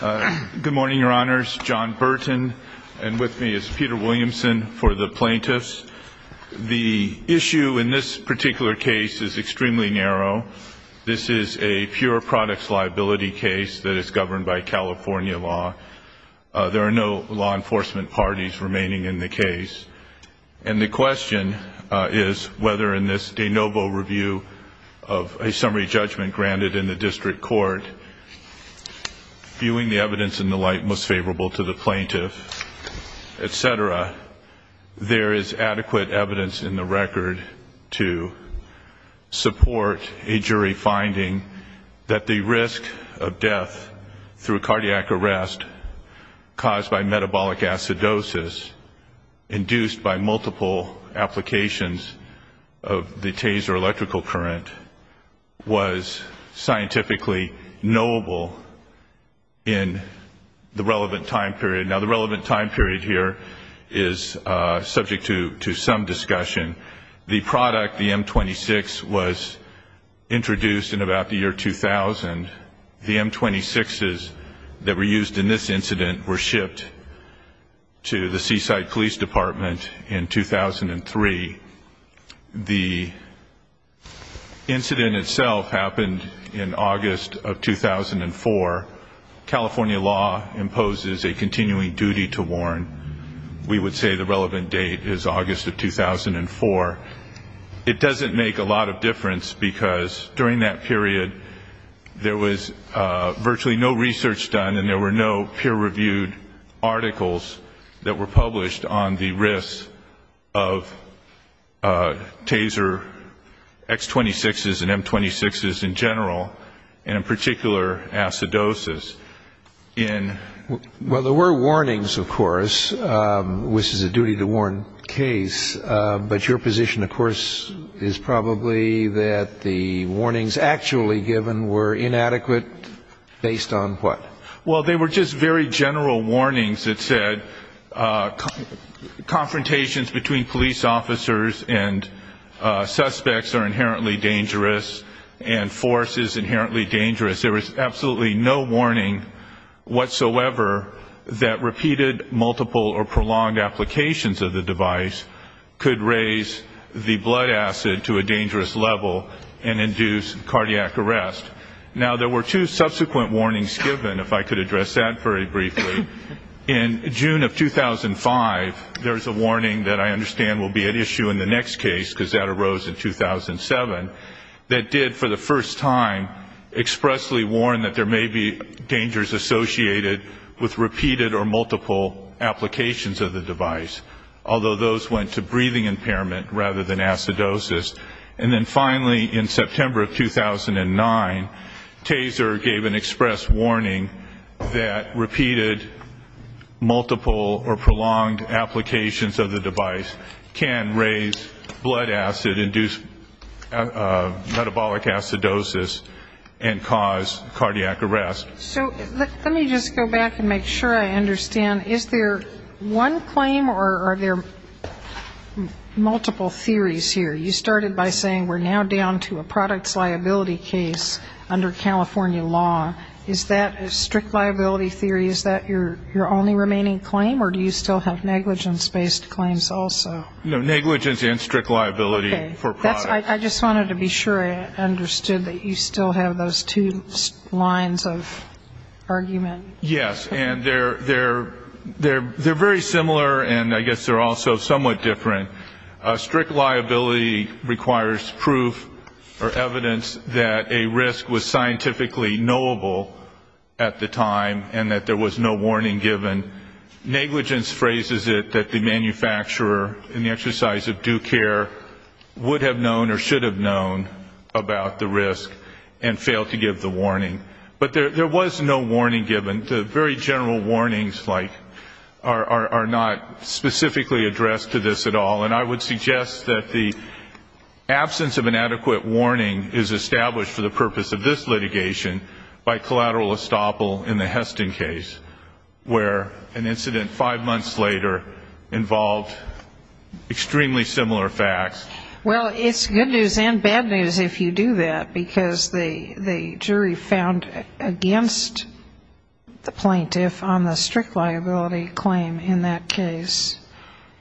Good morning, your honors. John Burton and with me is Peter Williamson for the plaintiffs. The issue in this particular case is extremely narrow. This is a pure products liability case that is governed by California law. There are no law enforcement parties remaining in the case. And the question is whether in this de novo review of a summary judgment granted in the district court, viewing the evidence in the light most favorable to the plaintiff, etc., there is adequate evidence in the record to support a jury finding that the risk of death through cardiac arrest caused by metabolic acidosis induced by multiple applications of the taser electrical current was scientifically knowable in the relevant time period. Now the relevant time period here is subject to some discussion. The product, the M26, was introduced in about the year 2000. The M26s that were used in this incident were shipped to the Seaside Police Department in 2003. The incident itself happened in August of 2004. California law imposes a continuing duty to warn. We would say the relevant date is August of 2004. It doesn't make a lot of difference because during that period there was virtually no research done and there were no peer-reviewed articles that were published on the risk of taser X26s and M26s in general, and in particular acidosis. Well, there were warnings, of course, which is a duty-to-warn case, but your position, of course, is probably that the warnings actually given were inadequate based on what? Well, they were just very general warnings that said confrontations between police officers and suspects are inherently dangerous and force is inherently dangerous. There was absolutely no warning whatsoever that repeated, multiple, or prolonged applications of the device could raise the blood acid to a dangerous level and induce cardiac arrest. Now, there were two subsequent warnings given, if I could address that very briefly. In June of 2005, there was a warning that I understand will be at issue in the next case, because that arose in 2007, that did for the first time expressly warn that there may be dangers associated with repeated or multiple applications of the device, although those went to breathing impairment rather than acidosis. And then finally in September of 2009, taser gave an express warning that repeated, multiple, or prolonged applications of the device can raise blood acid, induce metabolic acidosis, and cause cardiac arrest. So let me just go back and make sure I understand. Is there one claim or are there multiple theories here? You started by saying we're now down to a products liability case under California law. Is that a strict liability theory? Is that your only remaining claim, or do you still have negligence-based claims also? No, negligence and strict liability for products. Okay. I just wanted to be sure I understood that you still have those two lines of argument. Yes, and they're very similar, and I guess they're also somewhat different. Strict liability requires proof or evidence that a risk was scientifically knowable at the time and that there was no warning given. Negligence phrases it that the manufacturer in the exercise of due care would have known or should have known about the risk and failed to give the warning. But there was no warning given. The very general warnings, like, are not specifically addressed to this at all, and I would suggest that the absence of an adequate warning is established for the purpose of this litigation by collateral estoppel in the Heston case, where an incident five months later involved extremely similar facts. Well, it's good news and bad news if you do that, because the jury found against the plaintiff on the strict liability claim in that case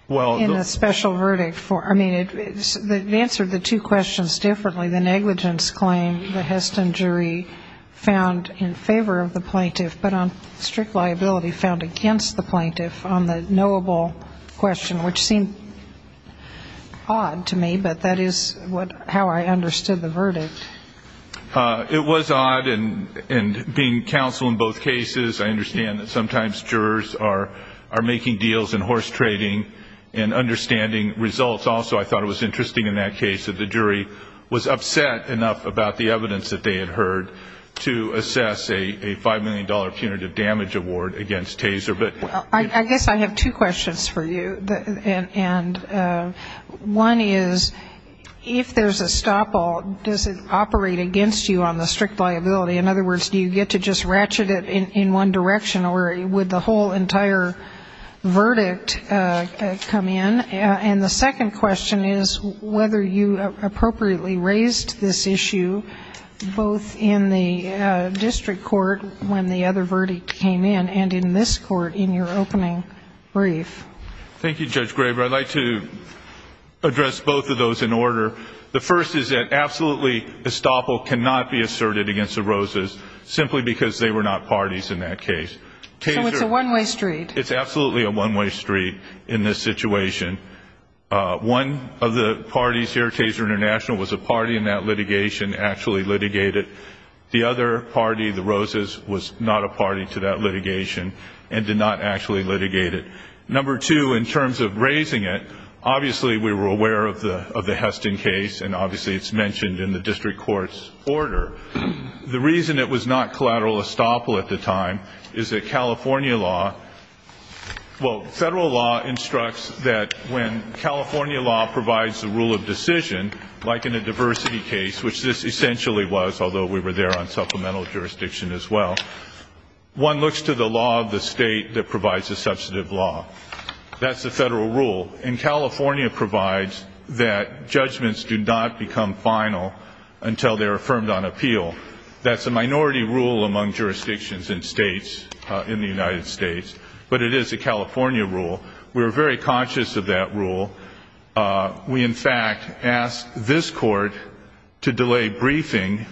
in a special verdict. I mean, it answered the two questions differently. The negligence claim, the Heston jury found in favor of the plaintiff, but on strict liability found against the plaintiff on the knowable question, which seemed odd to me, but that is how I understood the verdict. It was odd, and being counsel in both cases, I understand that sometimes jurors are making deals in horse trading and understanding results. Also, I thought it was interesting in that case that the jury was upset enough about the evidence that they had heard to assess a $5 million punitive damage award against Taser. I guess I have two questions for you, and one is, if there's a estoppel, does it operate against you on the strict liability? In other words, do you get to just ratchet it in one direction, or would the whole entire verdict come in? And the second question is whether you appropriately raised this issue, both in the district court when the other verdict came in, and in this court in your opening brief. Thank you, Judge Graber. I'd like to address both of those in order. The first is that absolutely estoppel cannot be asserted against the Rosas, simply because they were not parties in that case. So it's a one-way street. It's absolutely a one-way street in this situation. One of the parties here, Taser International, was a party in that litigation, actually litigated. The other party, the Rosas, was not a party to that litigation and did not actually litigate it. Number two, in terms of raising it, obviously we were aware of the Heston case, and obviously it's mentioned in the district court's order. The reason it was not collateral estoppel at the time is that California law, well, federal law instructs that when California law provides the rule of decision, like in the diversity case, which this essentially was, although we were there on supplemental jurisdiction as well, one looks to the law of the state that provides the substantive law. That's the federal rule. And California provides that judgments do not become final until they're affirmed on appeal. That's a minority rule among jurisdictions and states in the United States, but it is a California rule. We were very conscious of that rule. We, in fact, asked this Court to delay briefing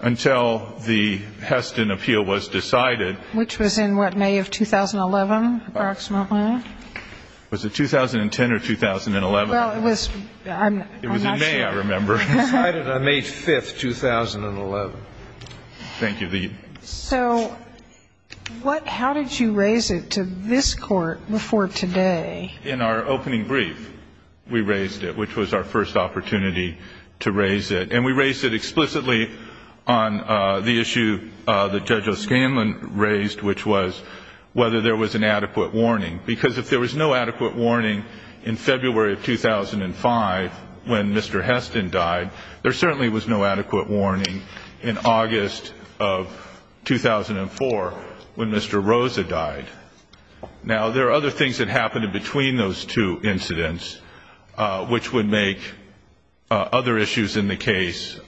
until the Heston appeal was decided. Which was in, what, May of 2011, approximately? Was it 2010 or 2011? Well, it was, I'm not sure. It was in May, I remember. It was decided on May 5, 2011. Thank you. So what, how did you raise it to this Court before today? In our opening brief, we raised it, which was our first opportunity to raise it. And we raised it explicitly on the issue that Judge O'Scanlan raised, which was whether there was an adequate warning. Because if there was no adequate warning in February of 2005 when Mr. Heston died, there certainly was no adequate warning in August of 2004 when Mr. Rosa died. Now, there are other things that happened between those two incidents, which would make other issues in the case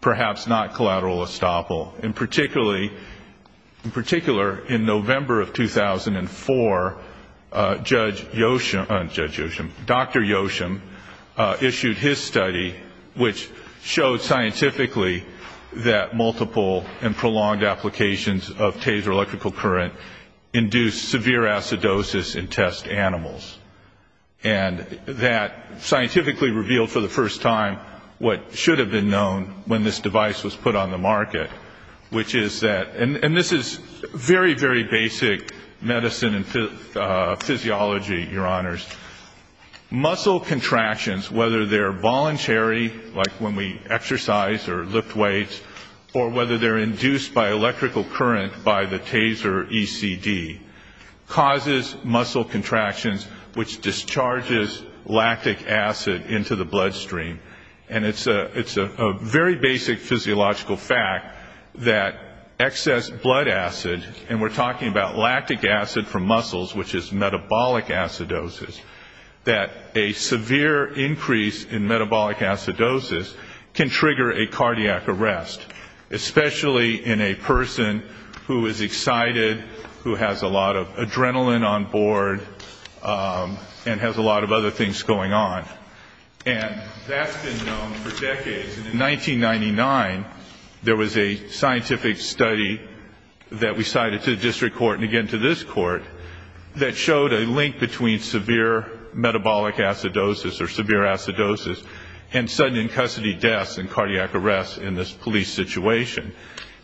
perhaps not collateral estoppel. In particular, in November of 2004, Dr. Yoshim issued his study, which showed scientifically that multiple and prolonged applications of Taser electrical current induced severe acidosis in test animals. And that scientifically revealed for the first time what should have been known when this device was put on the market, which is that, and this is very, very basic medicine and physiology, Your Honors. Muscle contractions, whether they're voluntary, like when we exercise or lift weights, or whether they're induced by electrical current by the Taser ECD, causes muscle contractions, which discharges lactic acid into the bloodstream. And it's a very basic physiological fact that excess blood acid, and we're talking about lactic acid from muscles, which is metabolic acidosis, that a severe increase in metabolic acidosis can trigger a cardiac arrest, especially in a person who is excited, who has a lot of adrenaline on board, and has a lot of other things going on. And that's been known for decades. And in 1999, there was a scientific study that we cited to the district court, and again to this court, that showed a link between severe metabolic acidosis or severe acidosis and sudden in-custody deaths and cardiac arrests in this police situation.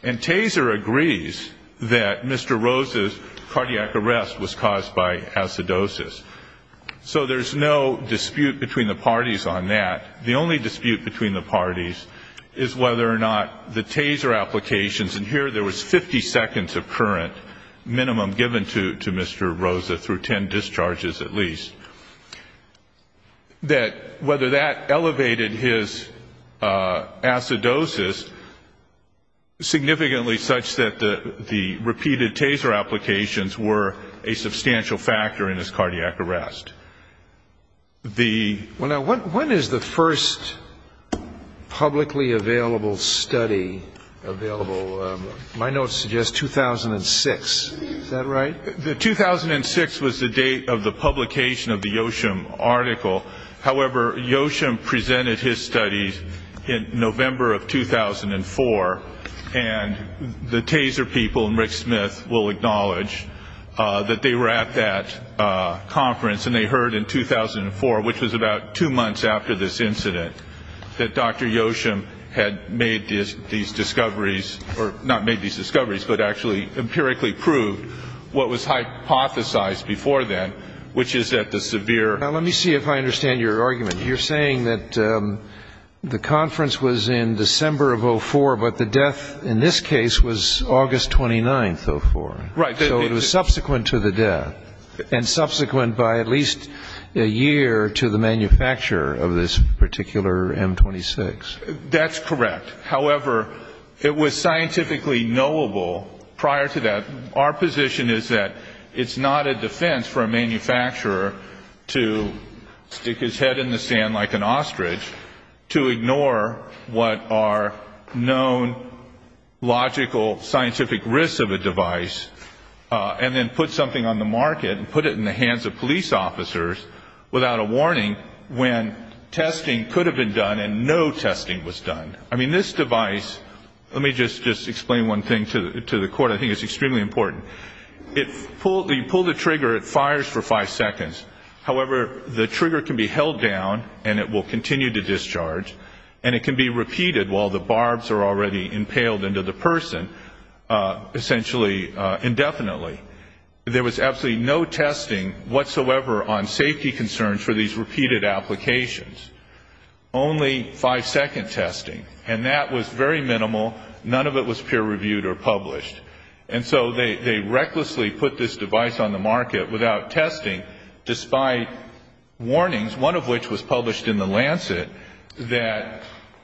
And Taser agrees that Mr. Rosa's cardiac arrest was caused by acidosis. So there's no dispute between the parties on that. The only dispute between the parties is whether or not the Taser applications, and here there was 50 seconds of current minimum given to Mr. Rosa through 10 discharges at least, that whether that elevated his acidosis significantly such that the repeated Taser applications were a substantial factor in his cardiac arrest. When is the first publicly available study available? My notes suggest 2006. Is that right? The 2006 was the date of the publication of the Yoshim article. However, Yoshim presented his studies in November of 2004, and the Taser people and Rick Smith will acknowledge that they were at that conference and they heard in 2004, which was about two months after this incident, that Dr. Yoshim had made these discoveries, or not made these discoveries, but actually empirically proved what was hypothesized before then, which is that the severe Now let me see if I understand your argument. You're saying that the conference was in December of 2004, but the death in this case was August 29th of 2004. Right. So it was subsequent to the death, and subsequent by at least a year to the manufacturer of this particular M26. That's correct. However, it was scientifically knowable prior to that. Our position is that it's not a defense for a manufacturer to stick his head in the sand like an ostrich to ignore what are known logical scientific risks of a device, and then put something on the market and put it in the hands of police officers without a warning when testing could have been done and no testing was done. I mean, this device, let me just explain one thing to the court. I think it's extremely important. If you pull the trigger, it fires for five seconds. However, the trigger can be held down and it will continue to discharge, and it can be repeated while the barbs are already impaled into the person, essentially indefinitely. There was absolutely no testing whatsoever on safety concerns for these repeated applications. Only five-second testing, and that was very minimal. None of it was peer-reviewed or published. And so they recklessly put this device on the market without testing, despite warnings, one of which was published in The Lancet, that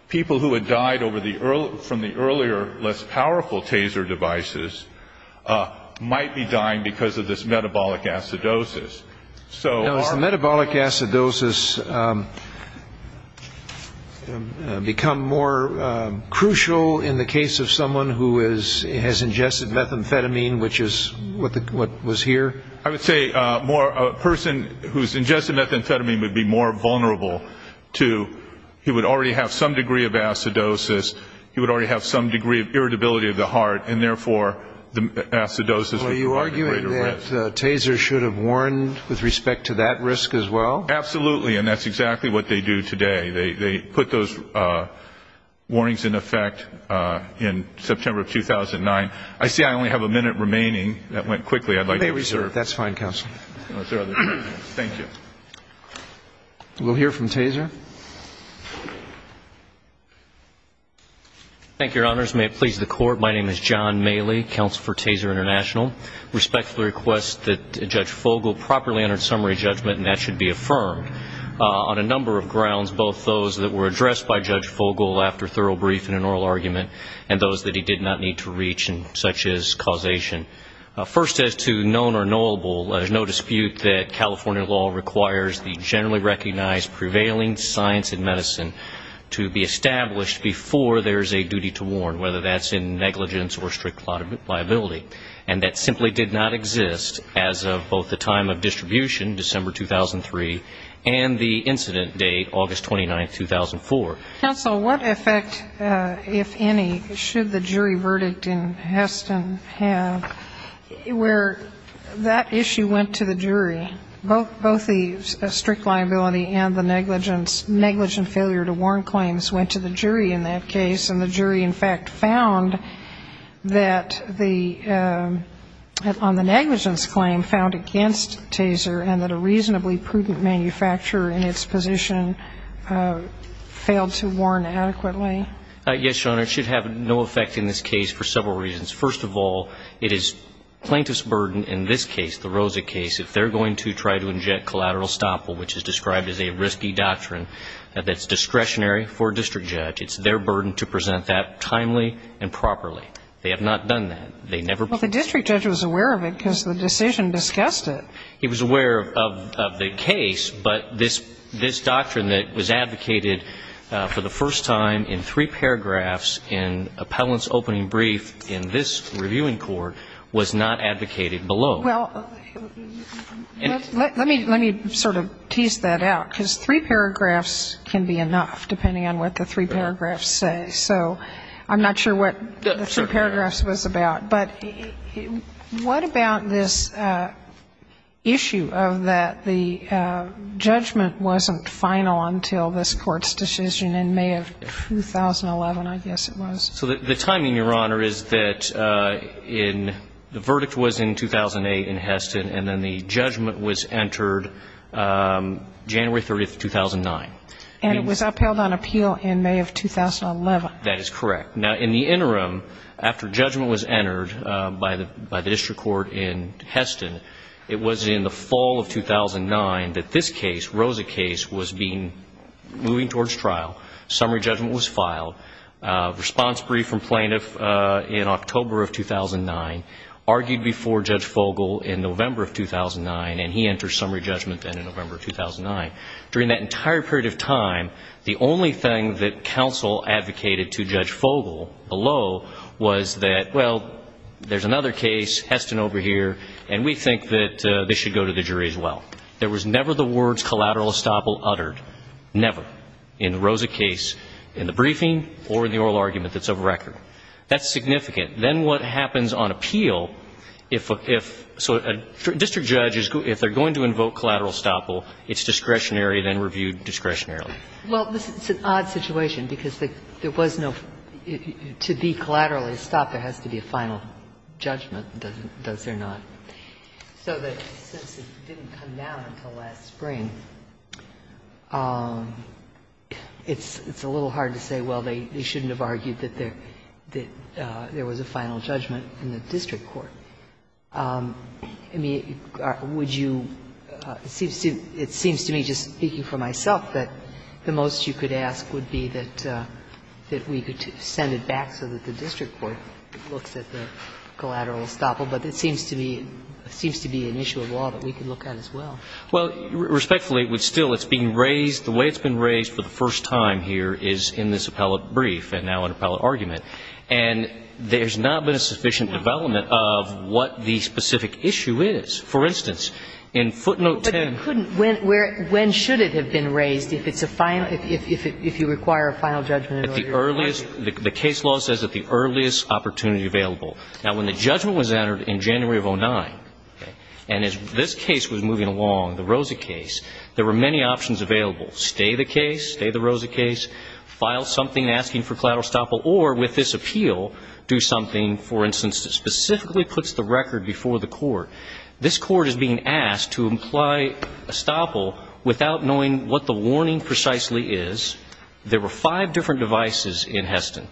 people who had died from the earlier, less powerful taser devices might be dying because of this metabolic acidosis. Now, has the metabolic acidosis become more crucial in the case of someone who has ingested methamphetamine, which is what was here? I would say a person who has ingested methamphetamine would be more vulnerable to, he would already have some degree of acidosis, he would already have some degree of irritability of the heart, and therefore the acidosis would provide a greater risk. Do you think that tasers should have warned with respect to that risk as well? Absolutely. And that's exactly what they do today. They put those warnings in effect in September of 2009. I see I only have a minute remaining. That went quickly. I'd like to reserve. That's fine, counsel. Thank you. We'll hear from taser. Thank you, Your Honors. May it please the Court. My name is John Maley, Counsel for Taser International. I respectfully request that Judge Fogle properly enter summary judgment, and that should be affirmed, on a number of grounds, both those that were addressed by Judge Fogle after thorough briefing and oral argument, and those that he did not need to reach, such as causation. First, as to known or knowable, there's no dispute that California law requires the generally recognized prevailing science and medicine to be established before there's a duty to warn, whether that's in negligence or strict liability, and that simply did not exist as of both the time of distribution, December 2003, and the incident date, August 29, 2004. Counsel, what effect, if any, should the jury verdict in Heston have where that issue went to the jury, Both the strict liability and the negligence, negligent failure to warn claims went to the jury in that case, and the jury, in fact, found that the, on the negligence claim, found against taser, and that a reasonably prudent manufacturer in its position failed to warn adequately. Yes, Your Honor. It should have no effect in this case for several reasons. First of all, it is plaintiff's burden in this case, the Rosa case, if they're going to try to inject collateral estoppel, which is described as a risky doctrine, that's discretionary for a district judge. It's their burden to present that timely and properly. They have not done that. They never. Well, the district judge was aware of it because the decision discussed it. He was aware of the case, but this doctrine that was advocated for the first time in three paragraphs in Appellant's opening brief in this reviewing court was not advocated below. Well, let me sort of tease that out, because three paragraphs can be enough, depending on what the three paragraphs say. So I'm not sure what the three paragraphs was about. But what about this issue of that the judgment wasn't final until this Court's decision in May of 2011, I guess it was? So the timing, Your Honor, is that the verdict was in 2008 in Heston, and then the judgment was entered January 30, 2009. And it was upheld on appeal in May of 2011. That is correct. Now, in the interim, after judgment was entered by the district court in Heston, it was in the fall of 2009 that this case, Rosa case, was being moving towards trial. Summary judgment was filed, response brief from plaintiff in October of 2009, argued before Judge Fogel in November of 2009, and he entered summary judgment then in November of 2009. During that entire period of time, the only thing that counsel advocated to Judge Fogel below was that, well, there's another case, Heston over here, and we think that this should go to the jury as well. There was never the words collateral estoppel uttered, never, in the Rosa case, in the briefing or in the oral argument that's of record. That's significant. Then what happens on appeal, if a district judge, if they're going to invoke collateral estoppel, it's discretionary, then reviewed discretionarily. Well, this is an odd situation, because there was no to be collateral estoppel has to be a final judgment, does there not? So that since it didn't come down until last spring, it's a little hard to say, well, they shouldn't have argued that there was a final judgment in the district court. I mean, would you, it seems to me, just speaking for myself, that the most you could ask would be that we could send it back so that the district court looks at the collateral estoppel, but it seems to be an issue of law that we could look at as well. Well, respectfully, it would still, it's being raised, the way it's been raised for the first time here is in this appellate brief and now in appellate argument. And there's not been a sufficient development of what the specific issue is. For instance, in footnote 10. But you couldn't, when should it have been raised if it's a final, if you require a final judgment in order to argue? The case law says at the earliest opportunity available. Now, when the judgment was entered in January of 2009, and as this case was moving along, the Rosa case, there were many options available. Stay the case, stay the Rosa case, file something asking for collateral estoppel, or with this appeal, do something, for instance, that specifically puts the record before the court. This court is being asked to imply estoppel without knowing what the warning precisely is. There were five different devices in Heston,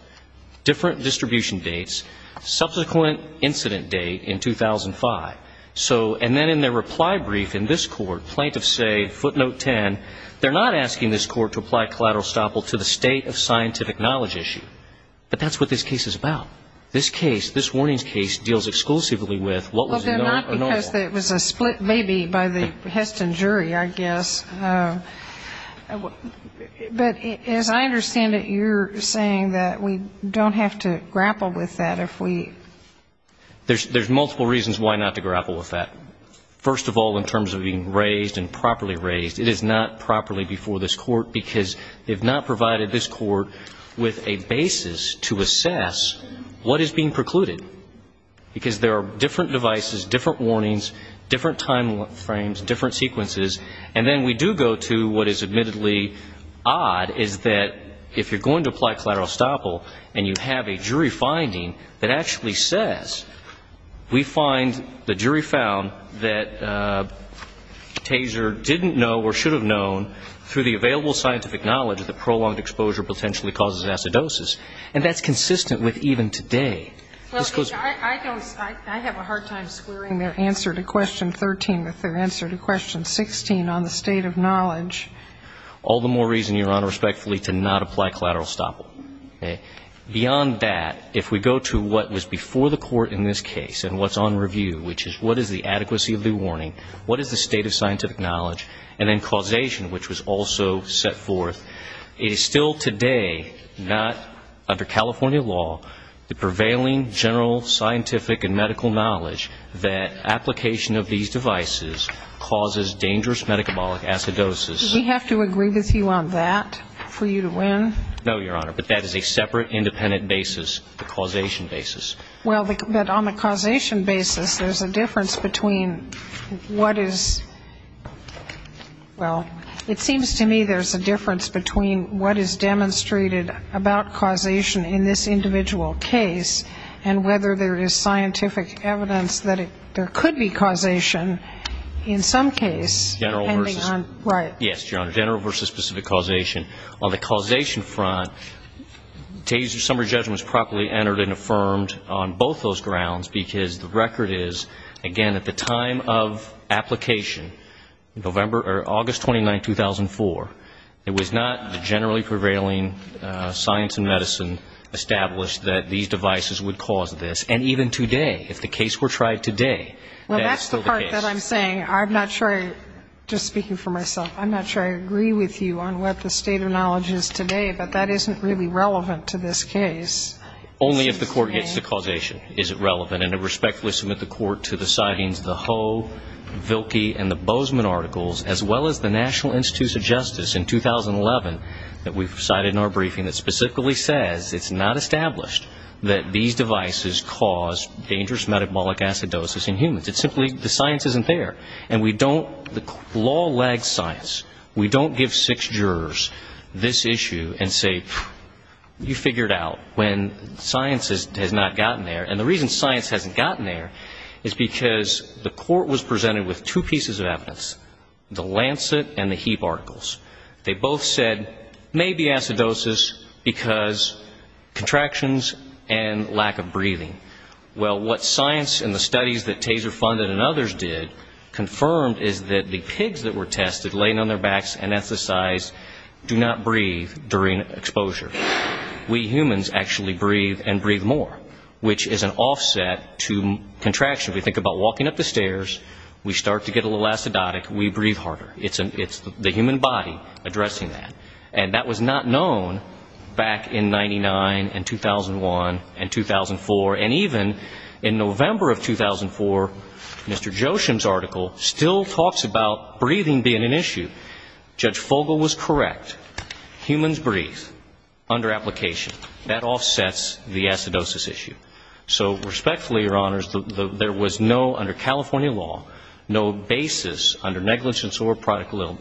different distribution dates, subsequent incident date in 2005. So, and then in their reply brief in this court, plaintiffs say, footnote 10, they're not asking this court to apply collateral estoppel to the state of scientific knowledge issue. But that's what this case is about. This case, this warnings case, deals exclusively with what was the normal. Well, they're not because it was a split maybe by the Heston jury, I guess. But as I understand it, you're saying that we don't have to grapple with that if we ---- There's multiple reasons why not to grapple with that. First of all, in terms of being raised and properly raised, it is not properly before this court, because they've not provided this court with a basis to assess what is being precluded, because there are different devices, different warnings, different time frames, different sequences. And then we do go to what is admittedly odd, is that if you're going to apply collateral estoppel, and you have a jury finding that actually says, we find the jury found that Taser didn't know or should have known through the available scientific knowledge that prolonged exposure potentially causes acidosis. And that's consistent with even today. Well, I don't ---- I have a hard time squaring their answer to question 13 with their answer to question 16 on the state of knowledge. All the more reason, Your Honor, respectfully to not apply collateral estoppel. Beyond that, if we go to what was before the court in this case and what's on review, which is what is the adequacy of the warning, what is the state of scientific knowledge, and then causation, which was also set forth, it is still today not, under California law, the prevailing general scientific and medical knowledge that application of these devices causes dangerous metabolic acidosis. Do we have to agree with you on that for you to win? No, Your Honor. But that is a separate, independent basis, the causation basis. Well, but on the causation basis, there's a difference between what is ---- well, it seems to me there's a difference between what is demonstrated about causation in this individual case and whether there is scientific evidence that there could be causation in some case. General versus ---- Right. Yes, Your Honor, general versus specific causation. On the causation front, days of summary judgment was properly entered and affirmed on both those grounds because the record is, again, at the time of application, November or August 29, 2004, it was not the generally prevailing science and medicine established that these devices would cause this. And even today, if the case were tried today, that's still the case. Well, that's the part that I'm saying. I'm not sure, just speaking for myself, I'm not sure I agree with you on what the state of knowledge is today, but that isn't really relevant to this case. Only if the court gets the causation is it relevant. And I respectfully submit the court to the sidings of the Ho, Vilke, and the Bozeman articles, as well as the National Institutes of Justice in 2011 that we've cited in our briefing that specifically says it's not established that these devices cause dangerous metabolic acidosis in humans. It's simply the science isn't there. And we don't ---- the law lags science. We don't give six jurors this issue and say, you figure it out, when science has not gotten there. And the reason science hasn't gotten there is because the court was presented with two pieces of evidence, the Lancet and the Heap articles. They both said maybe acidosis because contractions and lack of breathing. Well, what science and the studies that Taser funded and others did confirmed is that the pigs that were tested laying on their backs and anesthetized do not breathe during exposure. We humans actually breathe and breathe more, which is an offset to contraction. We think about walking up the stairs. We start to get a little acidotic. We breathe harder. It's the human body addressing that. And that was not known back in 99 and 2001 and 2004. And even in November of 2004, Mr. Joshim's article still talks about breathing being an issue. Judge Fogle was correct. Humans breathe. Under application, that offsets the acidosis issue. So respectfully, Your Honors, there was no, under California law, no basis under negligence or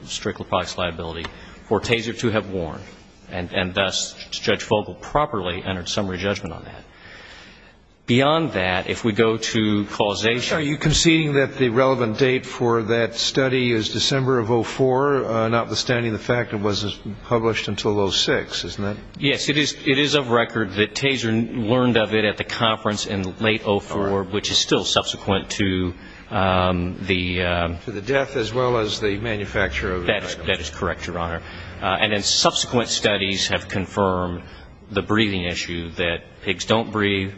strictly products liability for Taser to have warned. And thus, Judge Fogle properly entered summary judgment on that. Beyond that, if we go to causation. Are you conceding that the relevant date for that study is December of 2004, notwithstanding the fact it wasn't published until 2006, isn't it? Yes, it is of record that Taser learned of it at the conference in late 2004, which is still subsequent to the death as well as the manufacture of the drug. That is correct, Your Honor. And then subsequent studies have confirmed the breathing issue, that pigs don't breathe,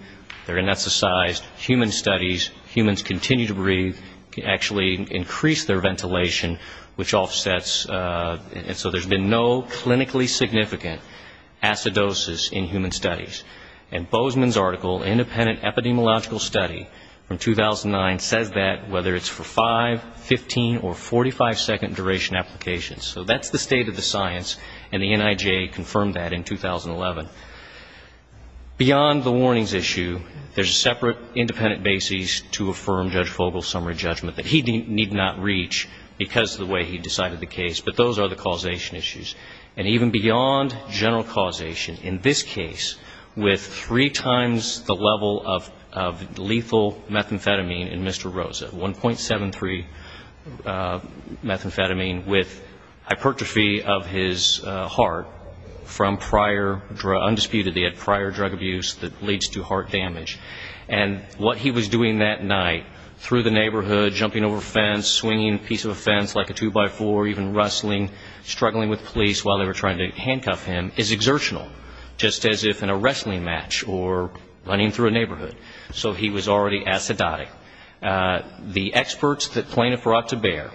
they're anesthetized. Human studies, humans continue to breathe, actually increase their ventilation, which offsets, and so there's been no clinically significant acidosis in human studies. And Bozeman's article, Independent Epidemiological Study from 2009, says that whether it's for five, 15, or 45-second duration applications. So that's the state of the science, and the NIJ confirmed that in 2011. Beyond the warnings issue, there's a separate independent basis to affirm Judge Fogle's summary judgment that he need not reach because of the way he decided the case, but those are the causation issues. And even beyond general causation, in this case, with three times the level of lethal methamphetamine in Mr. Rosa, 1.73 methamphetamine with hypertrophy of his heart from prior undisputed, they had prior drug abuse that leads to heart damage. And what he was doing that night, through the neighborhood, jumping over fence, swinging a piece of a fence like a two-by-four, even wrestling, struggling with police while they were trying to handcuff him, is exertional, just as if in a wrestling match or running through a neighborhood. So he was already acidotic. The experts that plaintiff brought to bear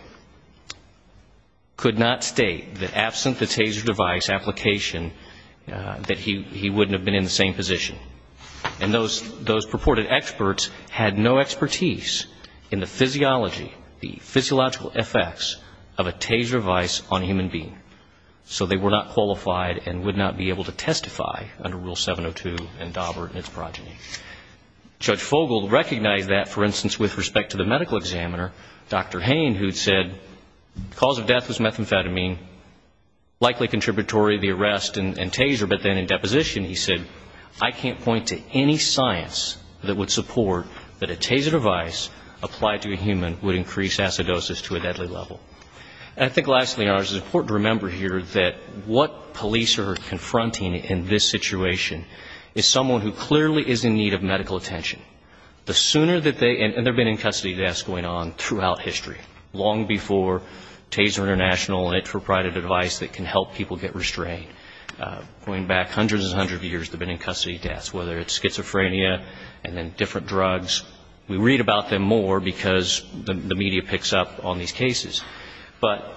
could not state that absent the Taser device application, that he wouldn't have been in the same position. And those purported experts had no expertise in the physiology, the physiological effects of a Taser device on a human being. So they were not qualified and would not be able to testify under Rule 702 and Daubert and its progeny. Judge Fogle recognized that, for instance, with respect to the medical examiner, Dr. Hain, who said the cause of death was methamphetamine, likely contributory to the arrest and Taser, but then in deposition he said, I can't point to any science that would support that a Taser device applied to a human would increase acidosis to a deadly level. And I think lastly, and it's important to remember here, that what police are confronting in this situation is someone who clearly is in need of medical attention. The sooner that they, and there have been in-custody deaths going on throughout history, long before Taser International and it proprieted a device that can help people get restrained, going back hundreds and hundreds of years they've been in-custody deaths, whether it's schizophrenia and then different drugs. We read about them more because the media picks up on these cases. But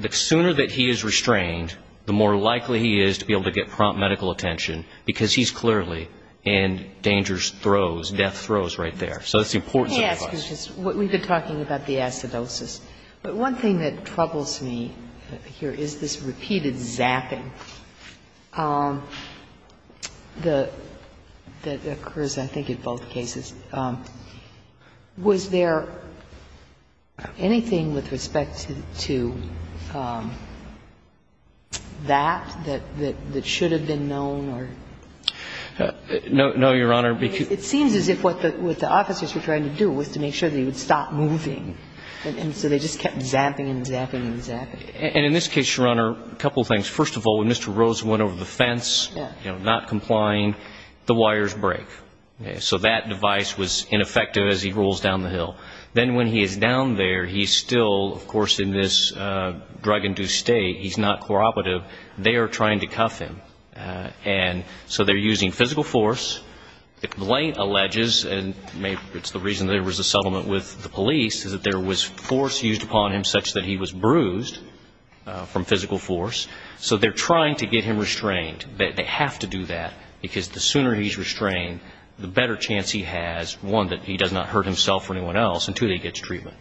the sooner that he is restrained, the more likely he is to be able to get prompt medical attention, because he's clearly in dangerous throes, death throes right there. So that's the importance of the device. And the other thing I want to ask is just what we've been talking about the acidosis. But one thing that troubles me here is this repeated zapping that occurs, I think, in both cases. Was there anything with respect to that that should have been known or? No, Your Honor. It seems as if what the officers were trying to do was to make sure that he would stop moving. And so they just kept zapping and zapping and zapping. And in this case, Your Honor, a couple of things. First of all, when Mr. Rosen went over the fence, you know, not complying, the wires break. So that device was ineffective as he rolls down the hill. Then when he is down there, he's still, of course, in this drug-induced state. He's not corroborative. They are trying to cuff him. And so they're using physical force. The complaint alleges, and maybe it's the reason there was a settlement with the police, is that there was force used upon him such that he was bruised from physical force. So they're trying to get him restrained. They have to do that because the sooner he's restrained, the better chance he has, one, that he does not hurt himself or anyone else, and two, that he gets treatment.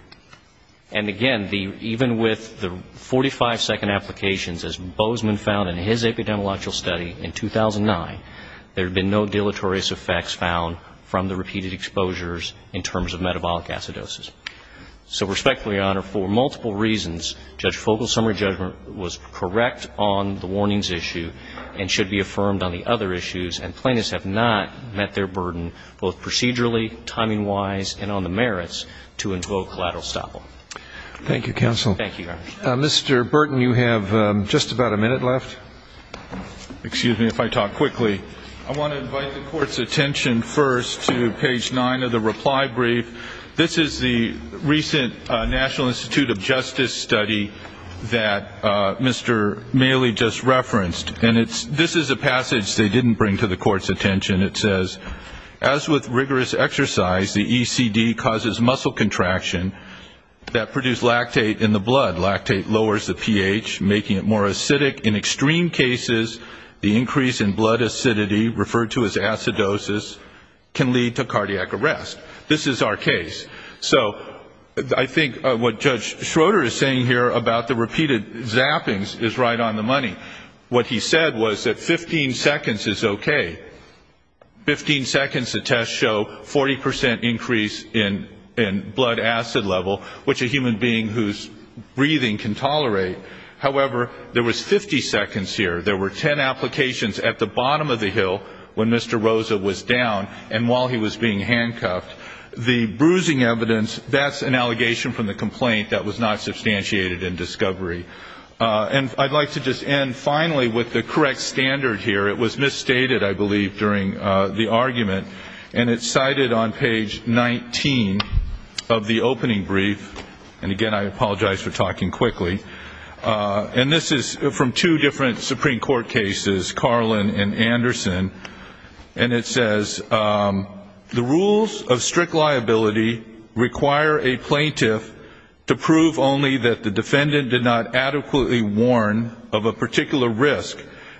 And again, even with the 45-second applications, as Bozeman found in his epidemiological study in 2009, there had been no deleterious effects found from the repeated exposures in terms of metabolic acidosis. So respectfully, Your Honor, for multiple reasons, Judge Fogle's summary judgment was correct on the warnings issue and should be affirmed on the other issues, and plaintiffs have not met their burden both procedurally, timing-wise, and on the merits to invoke collateral estoppel. Thank you, counsel. Thank you, Your Honor. Mr. Burton, you have just about a minute left. Excuse me if I talk quickly. I want to invite the Court's attention first to page 9 of the reply brief. This is the recent National Institute of Justice study that Mr. Maley just referenced, and this is a passage they didn't bring to the Court's attention. It says, as with rigorous exercise, the ECD causes muscle contraction that produce lactate in the blood. Lactate lowers the pH, making it more acidic. In extreme cases, the increase in blood acidity, referred to as acidosis, can lead to cardiac arrest. This is our case. So I think what Judge Schroeder is saying here about the repeated zappings is right on the money. What he said was that 15 seconds is okay. Fifteen seconds, the tests show 40% increase in blood acid level, which a human being who's breathing can tolerate. However, there was 50 seconds here. There were 10 applications at the bottom of the hill when Mr. Rosa was down and while he was being handcuffed. The bruising evidence, that's an allegation from the complaint that was not substantiated in discovery. And I'd like to just end finally with the correct standard here. It was misstated, I believe, during the argument, and it's cited on page 19 of the opening brief. And again, I apologize for talking quickly. And this is from two different Supreme Court cases, Carlin and Anderson. And it says, the rules of strict liability require a plaintiff to prove only that the defendant did not adequately warn of a particular risk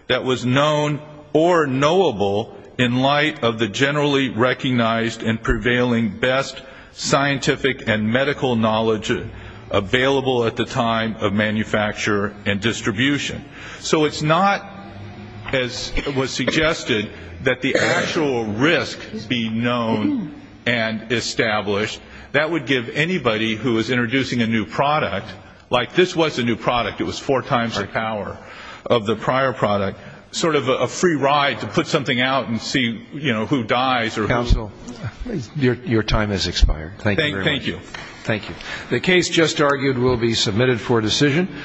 that was known or knowable in light of the generally recognized and prevailing best scientific and medical knowledge available at the time of manufacture and distribution. So it's not, as was suggested, that the actual risk be known and established. That would give anybody who is introducing a new product, like this was a new product, it was four times the power of the prior product, sort of a free ride to put something out and see, you know, who dies. Counsel, your time has expired. Thank you very much. Thank you. Thank you. The case just argued will be submitted for decision.